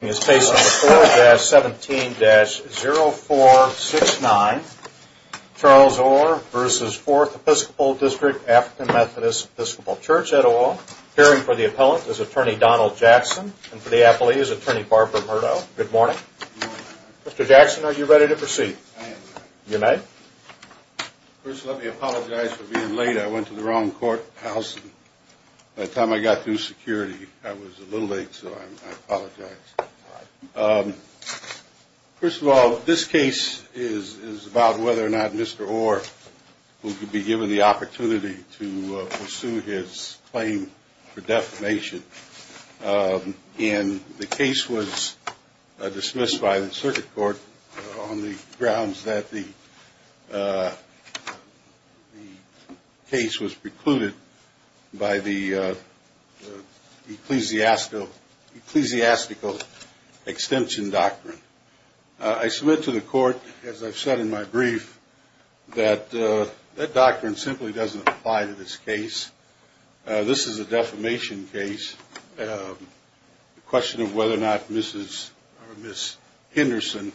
Appearing for the appellant is Attorney Donald Jackson and for the appellee is Attorney Barbara Murdo. Good morning. Good morning. Mr. Jackson, are you ready to proceed? I am ready. You may. First, let me apologize for being late. I went to the wrong courthouse. By the time I got through security, I was a little late, so I apologize. First of all, this case is about whether or not Mr. Orr will be given the opportunity to pursue his claim for defamation. And the case was dismissed by the circuit court on the grounds that the case was precluded by the Ecclesiastical Extension Doctrine. I submit to the court, as I've said in my brief, that that doctrine simply doesn't apply to this case. This is a defamation case. The question of whether or not Mrs. Henderson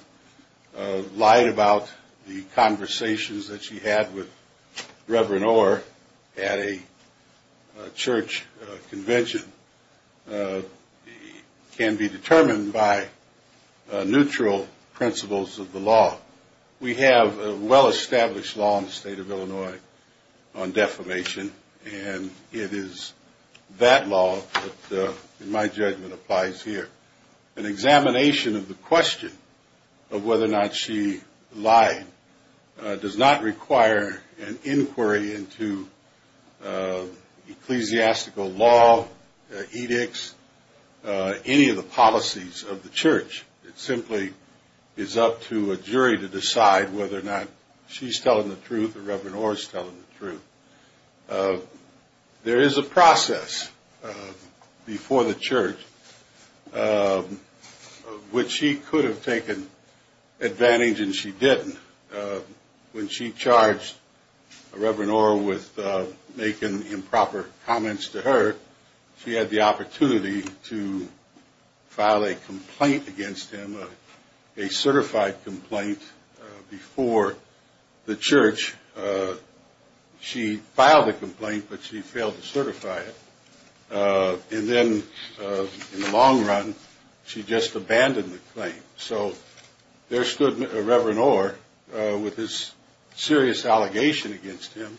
lied about the conversations that she had with Reverend Orr at a church convention can be determined by neutral principles of the law. We have a well-established law in the state of Illinois on defamation, and it is that law that, in my judgment, applies here. An examination of the question of whether or not she lied does not require an inquiry into ecclesiastical law, edicts, any of the policies of the church. It simply is up to a jury to decide whether or not she's telling the truth or Reverend Orr is telling the truth. There is a process before the church which she could have taken advantage and she didn't. When she charged Reverend Orr with making improper comments to her, she had the opportunity to file a complaint against him, a certified complaint, before the church. She filed the complaint, but she failed to certify it. And then, in the long run, she just abandoned the claim. So there stood Reverend Orr with his serious allegation against him,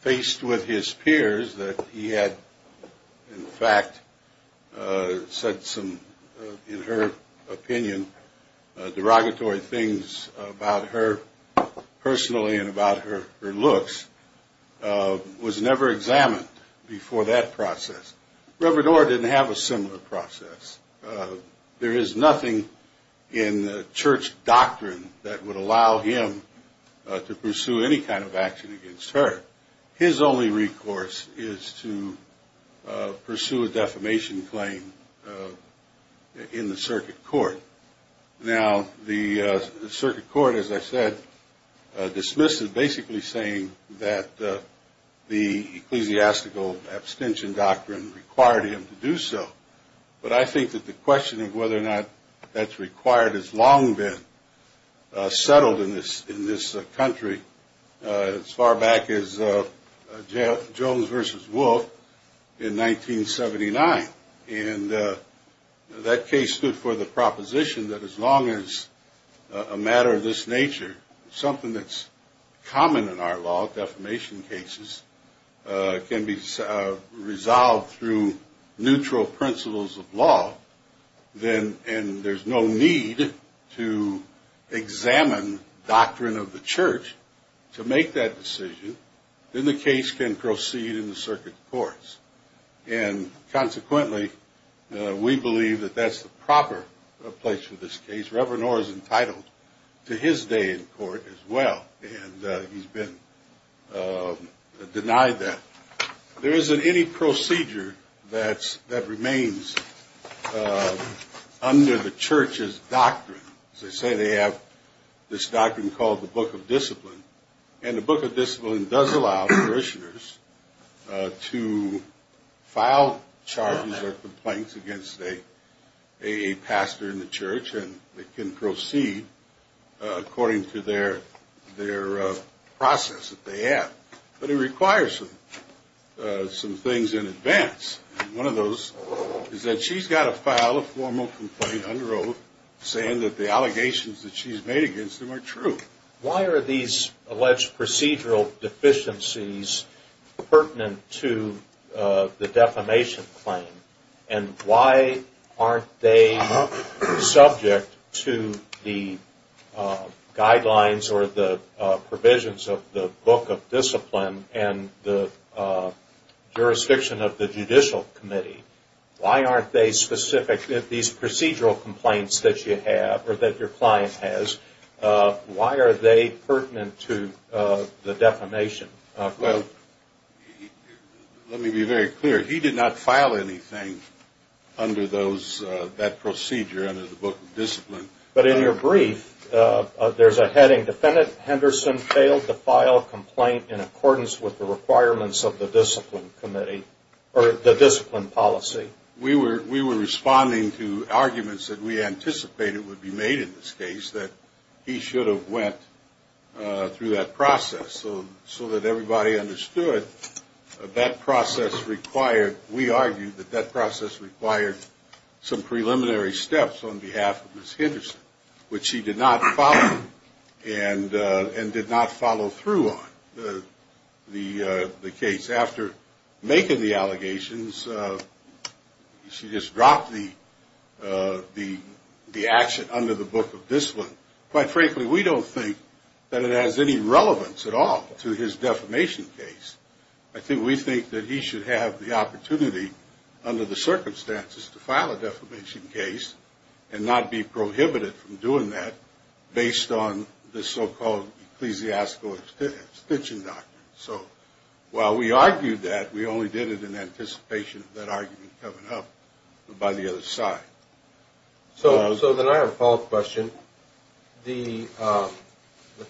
faced with his peers that he had, in fact, said some, in her opinion, derogatory things about her personally and about her looks, was never examined before that process. Reverend Orr didn't have a similar process. There is nothing in church doctrine that would allow him to pursue any kind of action against her. His only recourse is to pursue a defamation claim in the circuit court. Now, the circuit court, as I said, dismissed it basically saying that the ecclesiastical abstention doctrine required him to do so. But I think that the question of whether or not that's required has long been settled in this country as far back as Jones v. Wolfe in 1979. And that case stood for the proposition that as long as a matter of this nature, something that's common in our law, defamation cases, can be resolved through neutral principles of law, and there's no need to examine doctrine of the church to make that decision, then the case can proceed in the circuit courts. And consequently, we believe that that's the proper place for this case. Reverend Orr is entitled to his day in court as well, and he's been denied that. There isn't any procedure that remains under the church's doctrine. As I say, they have this doctrine called the Book of Discipline. And the Book of Discipline does allow parishioners to file charges or complaints against a pastor in the church, and they can proceed according to their process that they have. But it requires some things in advance. One of those is that she's got to file a formal complaint under oath saying that the allegations that she's made against him are true. Why are these alleged procedural deficiencies pertinent to the defamation claim? And why aren't they subject to the guidelines or the provisions of the Book of Discipline and the jurisdiction of the Judicial Committee? Why aren't they specific to these procedural complaints that you have or that your client has? Why are they pertinent to the defamation? Well, let me be very clear. He did not file anything under that procedure under the Book of Discipline. Defendant Henderson failed to file a complaint in accordance with the requirements of the discipline committee or the discipline policy. We were responding to arguments that we anticipated would be made in this case that he should have went through that process so that everybody understood. We argued that that process required some preliminary steps on behalf of Ms. Henderson, which she did not follow and did not follow through on the case. After making the allegations, she just dropped the action under the Book of Discipline. Quite frankly, we don't think that it has any relevance at all to his defamation case. I think we think that he should have the opportunity under the circumstances to file a defamation case and not be prohibited from doing that based on the so-called ecclesiastical extension doctrine. So while we argued that, we only did it in anticipation of that argument coming up by the other side. So then I have a follow-up question. The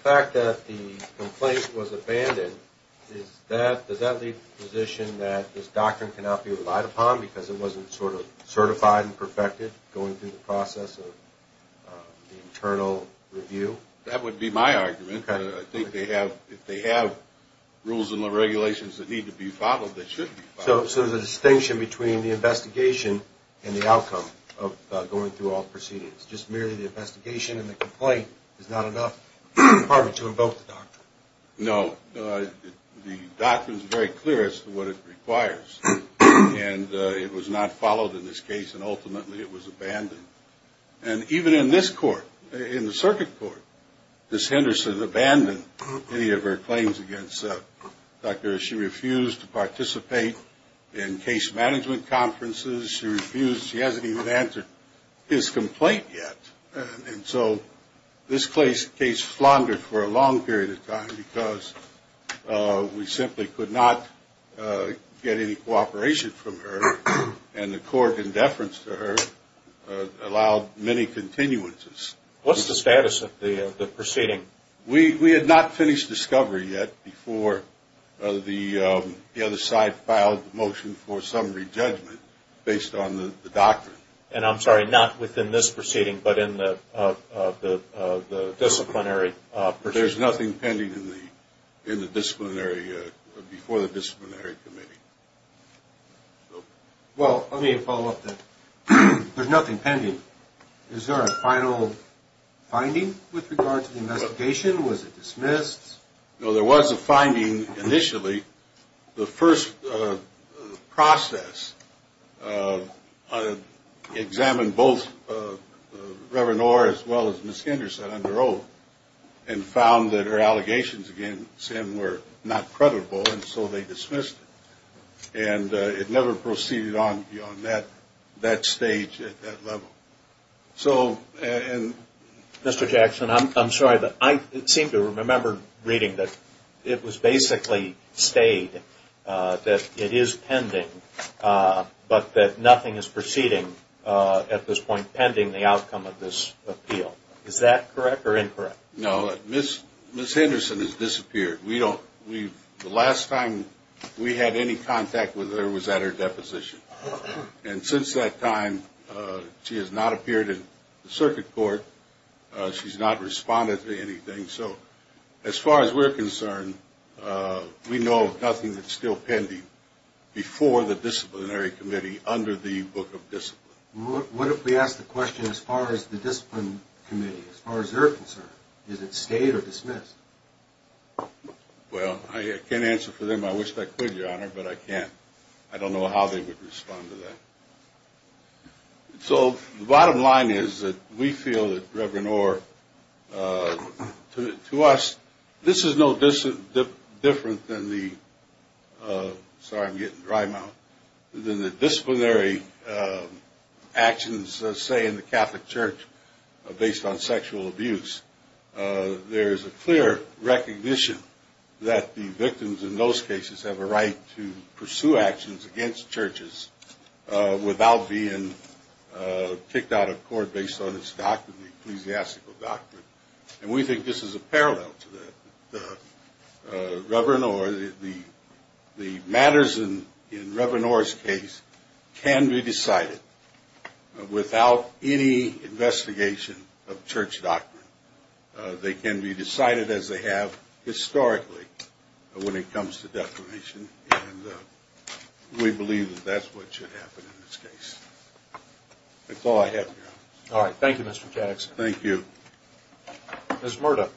fact that the complaint was abandoned, does that leave the position that this doctrine cannot be relied upon because it wasn't sort of certified and perfected going through the process of the internal review? That would be my argument. I think if they have rules and regulations that need to be followed, they should be followed. So there's a distinction between the investigation and the outcome of going through all proceedings. Just merely the investigation and the complaint is not enough to invoke the doctrine? No. The doctrine is very clear as to what it requires, and it was not followed in this case, and ultimately it was abandoned. And even in this court, in the circuit court, Ms. Henderson abandoned any of her claims against Dr. She refused to participate in case management conferences. She refused. She hasn't even answered his complaint yet. And so this case floundered for a long period of time because we simply could not get any cooperation from her, and the court in deference to her allowed many continuances. What's the status of the proceeding? We had not finished discovery yet before the other side filed the motion for summary judgment based on the doctrine. And I'm sorry, not within this proceeding, but in the disciplinary proceeding? There's nothing pending in the disciplinary, before the disciplinary committee. Well, let me follow up there. There's nothing pending. Is there a final finding with regard to the investigation? Was it dismissed? No, there was a finding initially. The first process examined both Reverend Orr as well as Ms. Henderson under oath and found that her allegations against him were not credible, and so they dismissed it. And it never proceeded on beyond that stage at that level. Mr. Jackson, I'm sorry, but I seem to remember reading that it was basically stayed that it is pending, but that nothing is proceeding at this point pending the outcome of this appeal. Is that correct or incorrect? No. Ms. Henderson has disappeared. The last time we had any contact with her was at her deposition. And since that time, she has not appeared in the circuit court. She's not responded to anything. So as far as we're concerned, we know nothing that's still pending before the disciplinary committee under the Book of Discipline. What if we ask the question as far as the discipline committee, as far as they're concerned, is it stayed or dismissed? Well, I can't answer for them. I wish I could, Your Honor, but I can't. I don't know how they would respond to that. So the bottom line is that we feel that Reverend Orr, to us, this is no different than the – sorry, I'm getting dry mouth – than the disciplinary actions, say, in the Catholic Church based on sexual abuse. There is a clear recognition that the victims in those cases have a right to pursue actions against churches without being kicked out of court based on its doctrine, the ecclesiastical doctrine. And we think this is a parallel to that. Reverend Orr, the matters in Reverend Orr's case can be decided without any investigation of church doctrine. They can be decided as they have historically when it comes to declaration, and we believe that that's what should happen in this case. That's all I have, Your Honor. All right. Thank you, Mr. Jackson. Thank you. Ms. Murdo.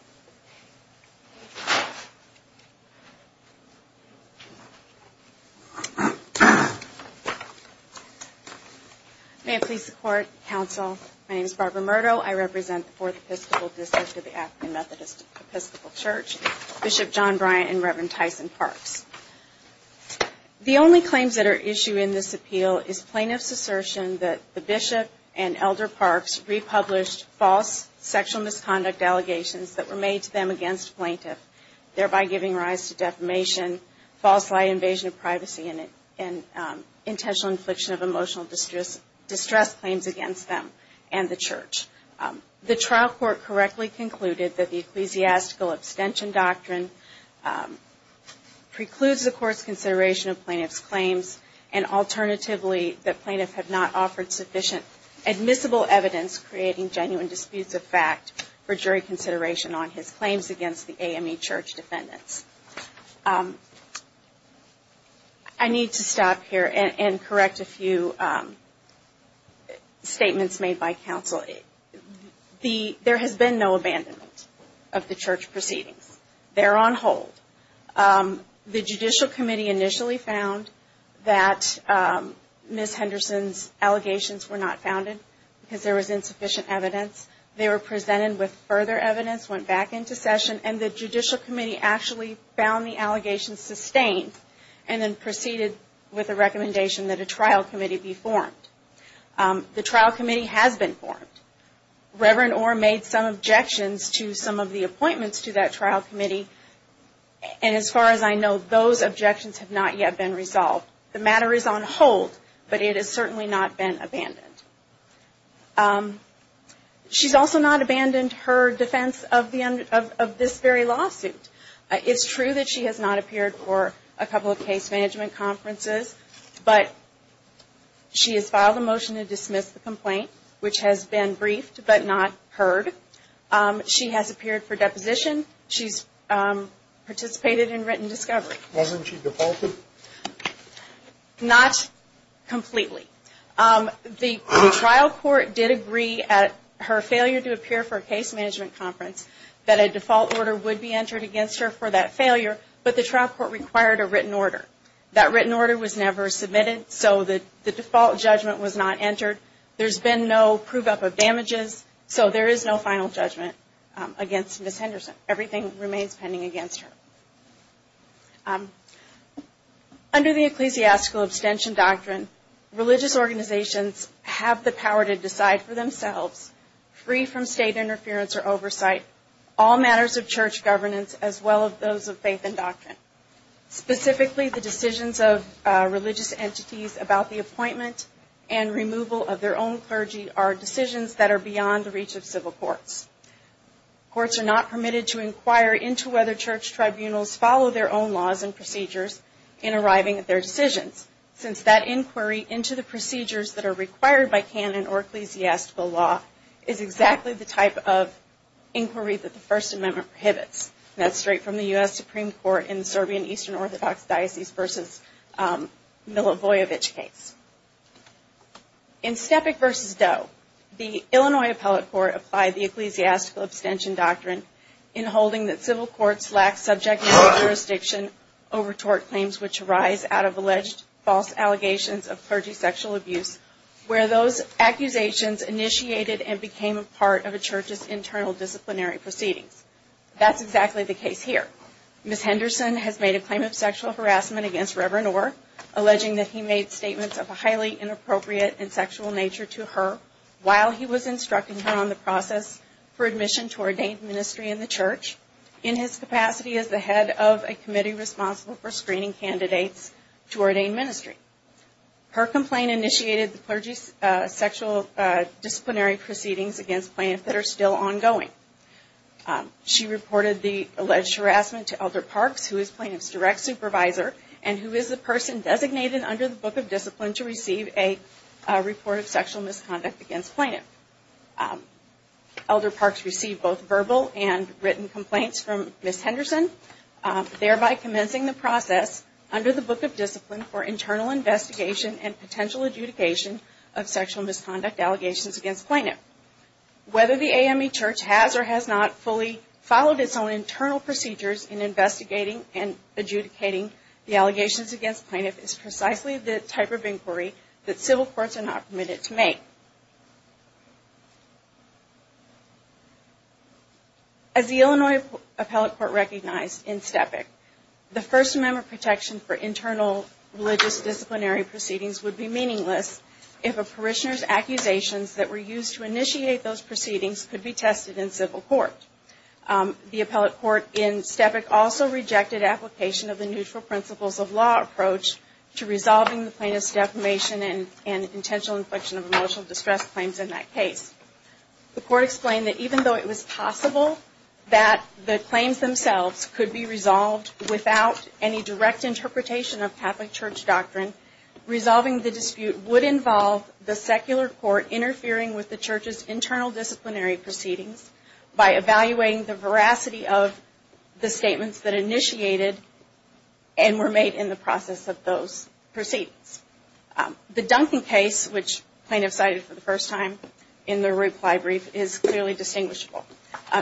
May I please support, counsel? My name is Barbara Murdo. I represent the Fourth Episcopal District of the African Methodist Episcopal Church, Bishop John Bryant and Reverend Tyson Parks. The only claims that are issued in this appeal is plaintiff's assertion that the bishop and Elder Parks republished false sexual misconduct allegations that were made to them against plaintiff, thereby giving rise to defamation, false lie invasion of privacy, and intentional infliction of emotional distress claims against them and the church. The trial court correctly concluded that the Ecclesiastical Abstention Doctrine precludes the court's consideration of plaintiff's claims and alternatively that plaintiff had not offered sufficient admissible evidence creating genuine disputes of fact for jury consideration on his claims against the AME church defendants. I need to stop here and correct a few statements made by counsel. There has been no abandonment of the church proceedings. They're on hold. The Judicial Committee initially found that Ms. Henderson's allegations were not founded because there was insufficient evidence. They were presented with further evidence, went back into session, and the Judicial Committee actually found the allegations sustained and then proceeded with a recommendation that a trial committee be formed. The trial committee has been formed. Reverend Orr made some objections to some of the appointments to that trial committee, and as far as I know, those objections have not yet been resolved. The matter is on hold, but it has certainly not been abandoned. She's also not abandoned her defense of this very lawsuit. It's true that she has not appeared for a couple of case management conferences, but she has filed a motion to dismiss the complaint, which has been briefed but not heard. She has appeared for deposition. She's participated in written discovery. Wasn't she defaulted? Not completely. The trial court did agree at her failure to appear for a case management conference that a default order would be entered against her for that failure, but the trial court required a written order. That written order was never submitted, so the default judgment was not entered. There's been no prove-up of damages, so there is no final judgment against Ms. Henderson. Everything remains pending against her. Under the ecclesiastical abstention doctrine, religious organizations have the power to decide for themselves, free from state interference or oversight, all matters of church governance as well as those of faith and doctrine. Specifically, the decisions of religious entities about the appointment and removal of their own clergy are decisions that are beyond the reach of civil courts. Courts are not permitted to inquire into whether church tribunals follow their own laws and procedures in arriving at their decisions, since that inquiry into the procedures that are required by canon or ecclesiastical law is exactly the type of inquiry that the First Amendment prohibits, and that's straight from the U.S. Supreme Court in the Serbian Eastern Orthodox Diocese v. Milovojevic case. In Steppick v. Doe, the Illinois Appellate Court applied the ecclesiastical abstention doctrine in holding that civil courts lack subject matter jurisdiction over tort claims which arise out of alleged false allegations of clergy sexual abuse, where those accusations initiated and became a part of a church's internal disciplinary proceedings. That's exactly the case here. Ms. Henderson has made a claim of sexual harassment against Reverend Orr, alleging that he made statements of a highly inappropriate and sexual nature to her while he was instructing her on the process for admission to ordained ministry in the church, in his capacity as the head of a committee responsible for screening candidates to ordained ministry. Her complaint initiated the clergy's sexual disciplinary proceedings against Plaintiff that are still ongoing. She reported the alleged harassment to Elder Parks, who is Plaintiff's direct supervisor and who is the person designated under the Book of Discipline to receive a report of sexual misconduct against Plaintiff. Elder Parks received both verbal and written complaints from Ms. Henderson, thereby commencing the process under the Book of Discipline for internal investigation and potential adjudication of sexual misconduct allegations against Plaintiff. Whether the AME Church has or has not fully followed its own internal procedures in investigating and adjudicating the allegations against Plaintiff is precisely the type of inquiry that civil courts are not permitted to make. As the Illinois Appellate Court recognized in Stepick, the First Amendment protection for internal religious disciplinary proceedings would be meaningless if a parishioner's accusations that were used to initiate those proceedings could be tested in civil court. The Appellate Court in Stepick also rejected application of the neutral principles of law approach to resolving the plaintiff's defamation and intentional infliction of emotional distress claims in that case. The court explained that even though it was possible that the claims themselves could be resolved without any direct interpretation of Catholic Church doctrine, resolving the dispute would involve the secular court interfering with the Church's internal disciplinary proceedings by evaluating the veracity of the statements that initiated and were made in the process of those proceedings. The Duncan case, which plaintiffs cited for the first time in their reply brief, is clearly distinguishable.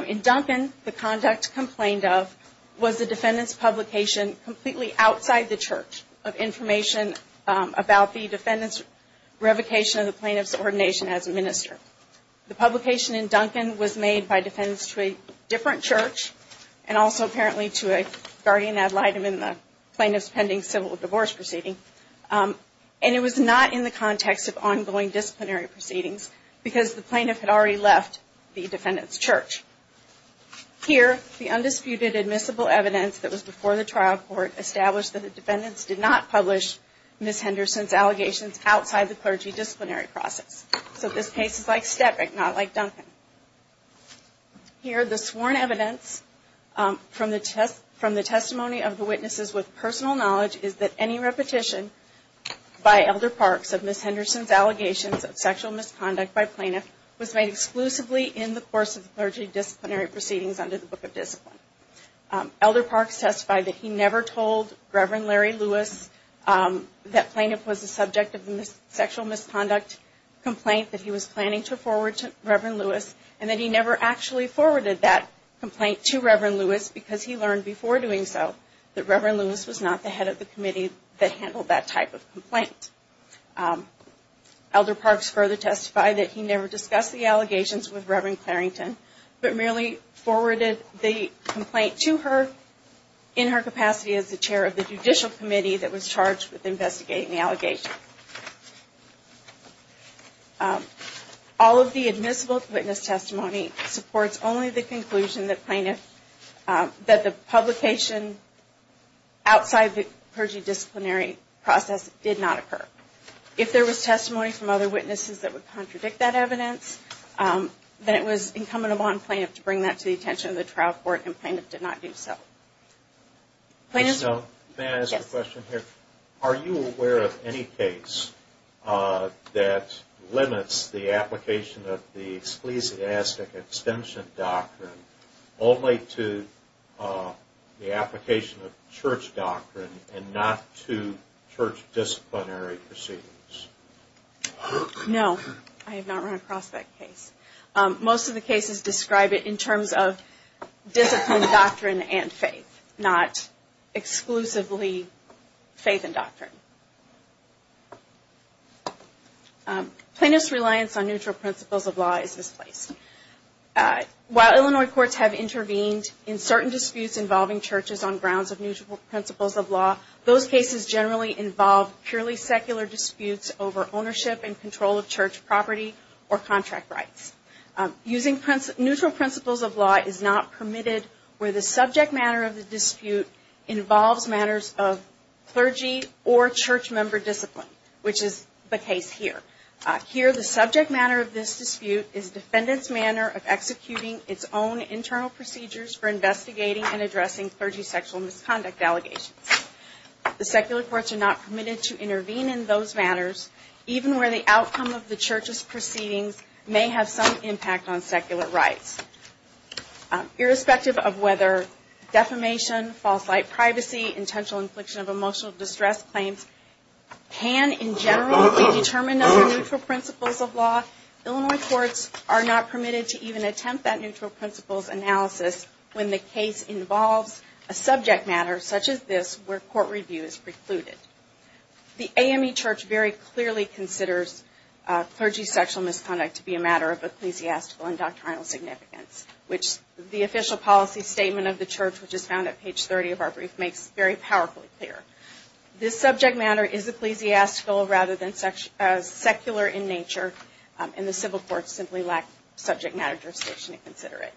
In Duncan, the conduct complained of was the defendant's publication completely outside the Church of information about the defendant's revocation of the plaintiff's ordination as a minister. The publication in Duncan was made by defendants to a different church and also apparently to a guardian ad litem in the plaintiff's pending civil divorce proceeding. And it was not in the context of ongoing disciplinary proceedings because the plaintiff had already left the defendant's church. Here, the undisputed admissible evidence that was before the trial court established that the defendants did not publish Ms. Henderson's allegations outside the clergy disciplinary process. So this case is like Stetrick, not like Duncan. Here, the sworn evidence from the testimony of the witnesses with personal knowledge is that any repetition by Elder Parks of Ms. Henderson's allegations of sexual misconduct by plaintiff was made exclusively in the course of the clergy disciplinary proceedings under the Book of Discipline. Elder Parks testified that he never told Reverend Larry Lewis that plaintiff was the subject of a sexual misconduct complaint that he was planning to forward to Reverend Lewis and that he never actually forwarded that complaint to Reverend Lewis because he learned before doing so that Reverend Lewis was not the head of the committee that handled that type of complaint. Elder Parks further testified that he never discussed the allegations with Reverend Clarington but merely forwarded the complaint to her in her capacity as the chair of the judicial committee that was charged with investigating the allegations. All of the admissible witness testimony supports only the conclusion that plaintiff that the publication outside the clergy disciplinary process did not occur. If there was testimony from other witnesses that would contradict that evidence, then it was incumbent upon plaintiff to bring that to the attention of the trial court and plaintiff did not do so. Are you aware of any case that limits the application of the Church doctrine and not to Church disciplinary proceedings? No, I have not run across that case. Most of the cases describe it in terms of disciplined doctrine and faith, not exclusively faith and doctrine. Plaintiff's reliance on neutral principles of law is misplaced. While Illinois courts have intervened in certain disputes involving churches on grounds of neutral principles of law, those cases generally involve purely secular disputes over ownership and control of church property or contract rights. Using neutral principles of law is not permitted where the subject matter of the dispute involves matters of clergy or church member discipline, which is the case here. Here, the subject matter of this dispute is defendant's manner of executing its own internal procedures for investigating and addressing clergy sexual misconduct allegations. The secular courts are not permitted to intervene in those matters, even where the outcome of the Church's proceedings may have some impact on secular rights. Irrespective of whether defamation, false light privacy, intentional infliction of emotional distress claims can in general be determined under neutral principles of law, Illinois courts are not permitted to even attempt that neutral principles analysis when the case involves a subject matter such as this where court review is precluded. The AME Church very clearly considers clergy sexual misconduct to be a matter of ecclesiastical and doctrinal significance, which the official policy statement of the Church, which is found at page 30 of our brief, makes very powerfully clear. This subject matter is ecclesiastical rather than secular in nature, and the civil courts simply lack subject matter jurisdiction to consider it.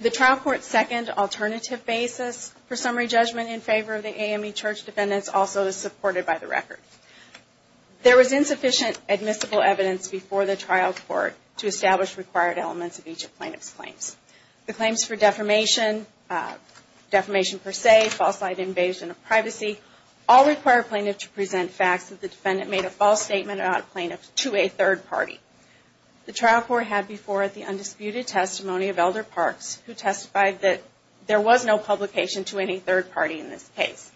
The trial court's second alternative basis for summary judgment in favor of the AME Church defendants also is supported by the record. There was insufficient admissible evidence before the trial court to establish required elements of each of plaintiff's claims. The claims for defamation, defamation per se, false light invasion of privacy, all require plaintiff to present facts that the defendant made a false statement about a plaintiff to a third party. The trial court had before it the undisputed testimony of Elder Parks, who testified that there was no publication to any third party in this case.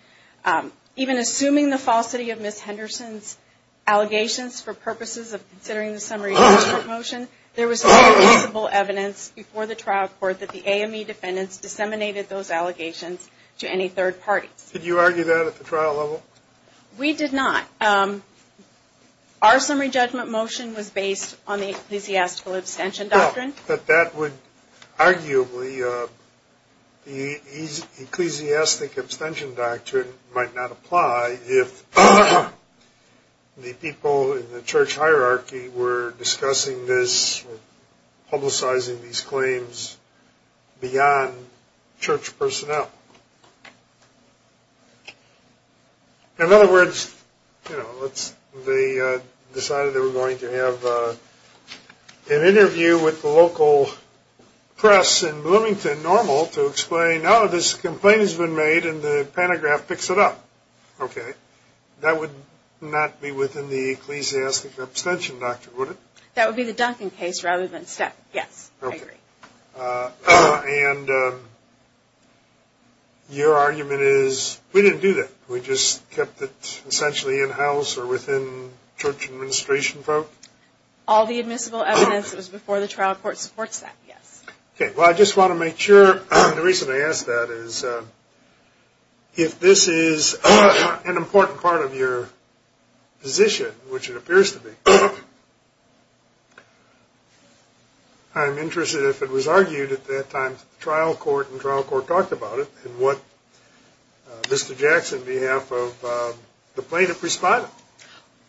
Even assuming the falsity of Ms. Henderson's allegations for purposes of considering the summary judgment motion, there was no admissible evidence before the trial court that the AME defendants disseminated those allegations to any third party. Did you argue that at the trial level? We did not. Our summary judgment motion was based on the ecclesiastical abstention doctrine. I think that that would arguably, the ecclesiastic abstention doctrine might not apply if the people in the church hierarchy were discussing this, publicizing these claims beyond church personnel. In other words, they decided they were going to have an interview with the local church, with the local press in Bloomington Normal to explain, oh, this complaint has been made and the pantograph picks it up. That would not be within the ecclesiastic abstention doctrine, would it? That would be the Duncan case rather than Step. Yes, I agree. And your argument is, we didn't do that. We just kept it essentially in-house or within church administration folk? All the admissible evidence, it was before the trial court supports that, yes. Well, I just want to make sure, the reason I ask that is, if this is an important part of your position, which it appears to be, I'm interested if it was argued at that time that the trial court and trial court talked about it and what Mr. Jackson, on behalf of the plaintiff, responded.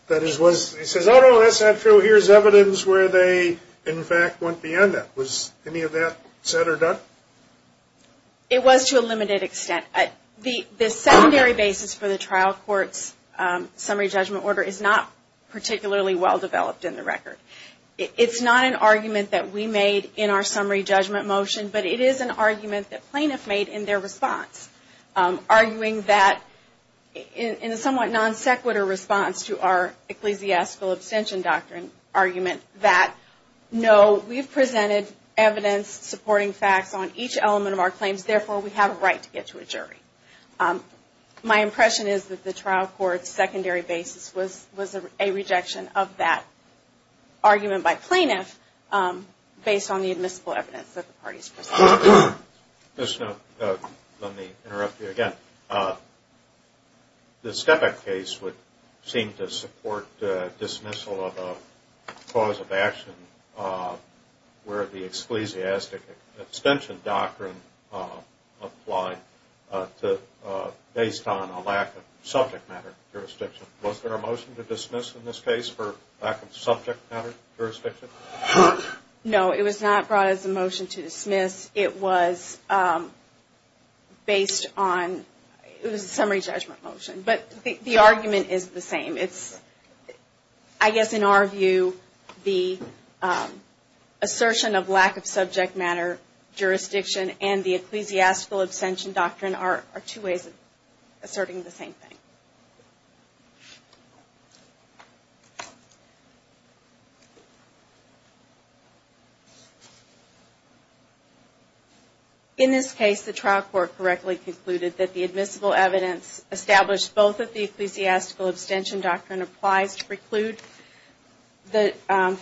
That is, he says, oh, no, that's not true. Here's evidence where they, in fact, went beyond that. Was any of that said or done? It was to a limited extent. The secondary basis for the trial court's summary judgment order is not particularly well-developed in the record. It's not an argument that we made in our summary judgment motion, but it is an argument that plaintiffs made in their response, arguing that, in a somewhat non-sequitur response to our ecclesiastical abstention doctrine argument, that no, we've presented evidence supporting facts on each element of our claims. Therefore, we have a right to get to a jury. My impression is that the trial court's secondary basis was a rejection of that argument by plaintiffs based on the admissible evidence that the parties presented. Let me interrupt you again. The Stepak case would seem to support dismissal of a cause of action where the ecclesiastic abstention doctrine applied based on a lack of subject matter jurisdiction. Was there a motion to dismiss in this case for lack of subject matter jurisdiction? No, it was not brought as a motion to dismiss. It was a summary judgment motion, but the argument is the same. I guess in our view, the assertion of lack of subject matter jurisdiction and the ecclesiastical abstention doctrine are two ways of asserting the same thing. In this case, the trial court correctly concluded that the admissible evidence established both that the ecclesiastical abstention doctrine applies to preclude the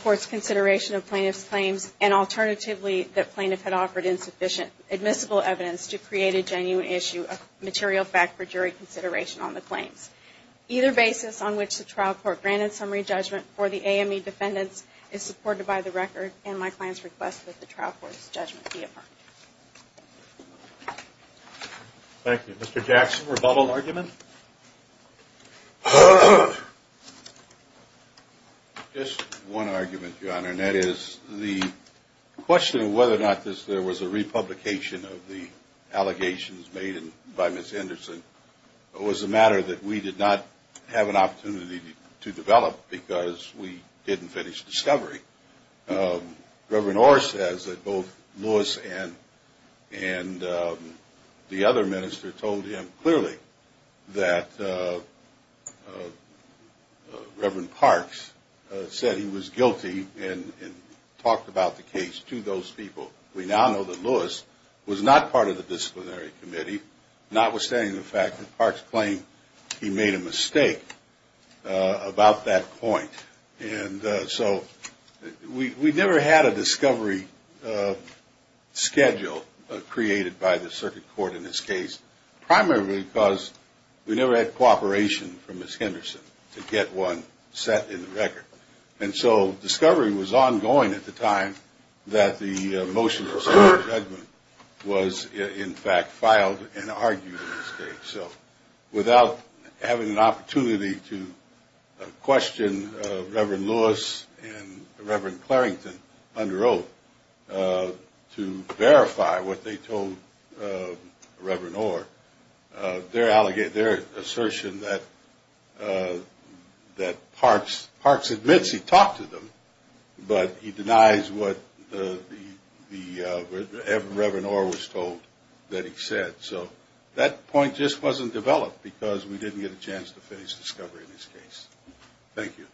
court's consideration of plaintiff's claims and alternatively that plaintiff had offered insufficient admissible evidence to create a genuine issue of material fact for jury consideration on the claims. Either basis on which the trial court granted summary judgment for the AME defendants is supported by the record and my client's request that the trial court's judgment be affirmed. Thank you. Mr. Jackson, rebuttal argument? Just one argument, Your Honor, and that is the question of whether or not there was a republication of the allegations made by Ms. Anderson was a matter that we did not have an opportunity to develop because we didn't finish discovery. Reverend Orr says that both Lewis and the other minister told him clearly that Reverend Parks said he was guilty and talked about the case to those people. We now know that Lewis was not part of the disciplinary committee, notwithstanding the fact that Parks claimed he made a mistake about that point. We never had a discovery schedule created by the circuit court in this case, primarily because we never had cooperation from Ms. Henderson to get one set in the record. Discovery was ongoing at the time that the motion of summary judgment was in fact filed and argued in this case. Without having an opportunity to question Reverend Lewis and Reverend Clarington under oath to verify what they told Reverend Orr, their assertion that Parks admits he talked to them, but he denies what Reverend Orr was told that he said. That point just wasn't developed because we didn't get a chance to finish discovery in this case. Thank you.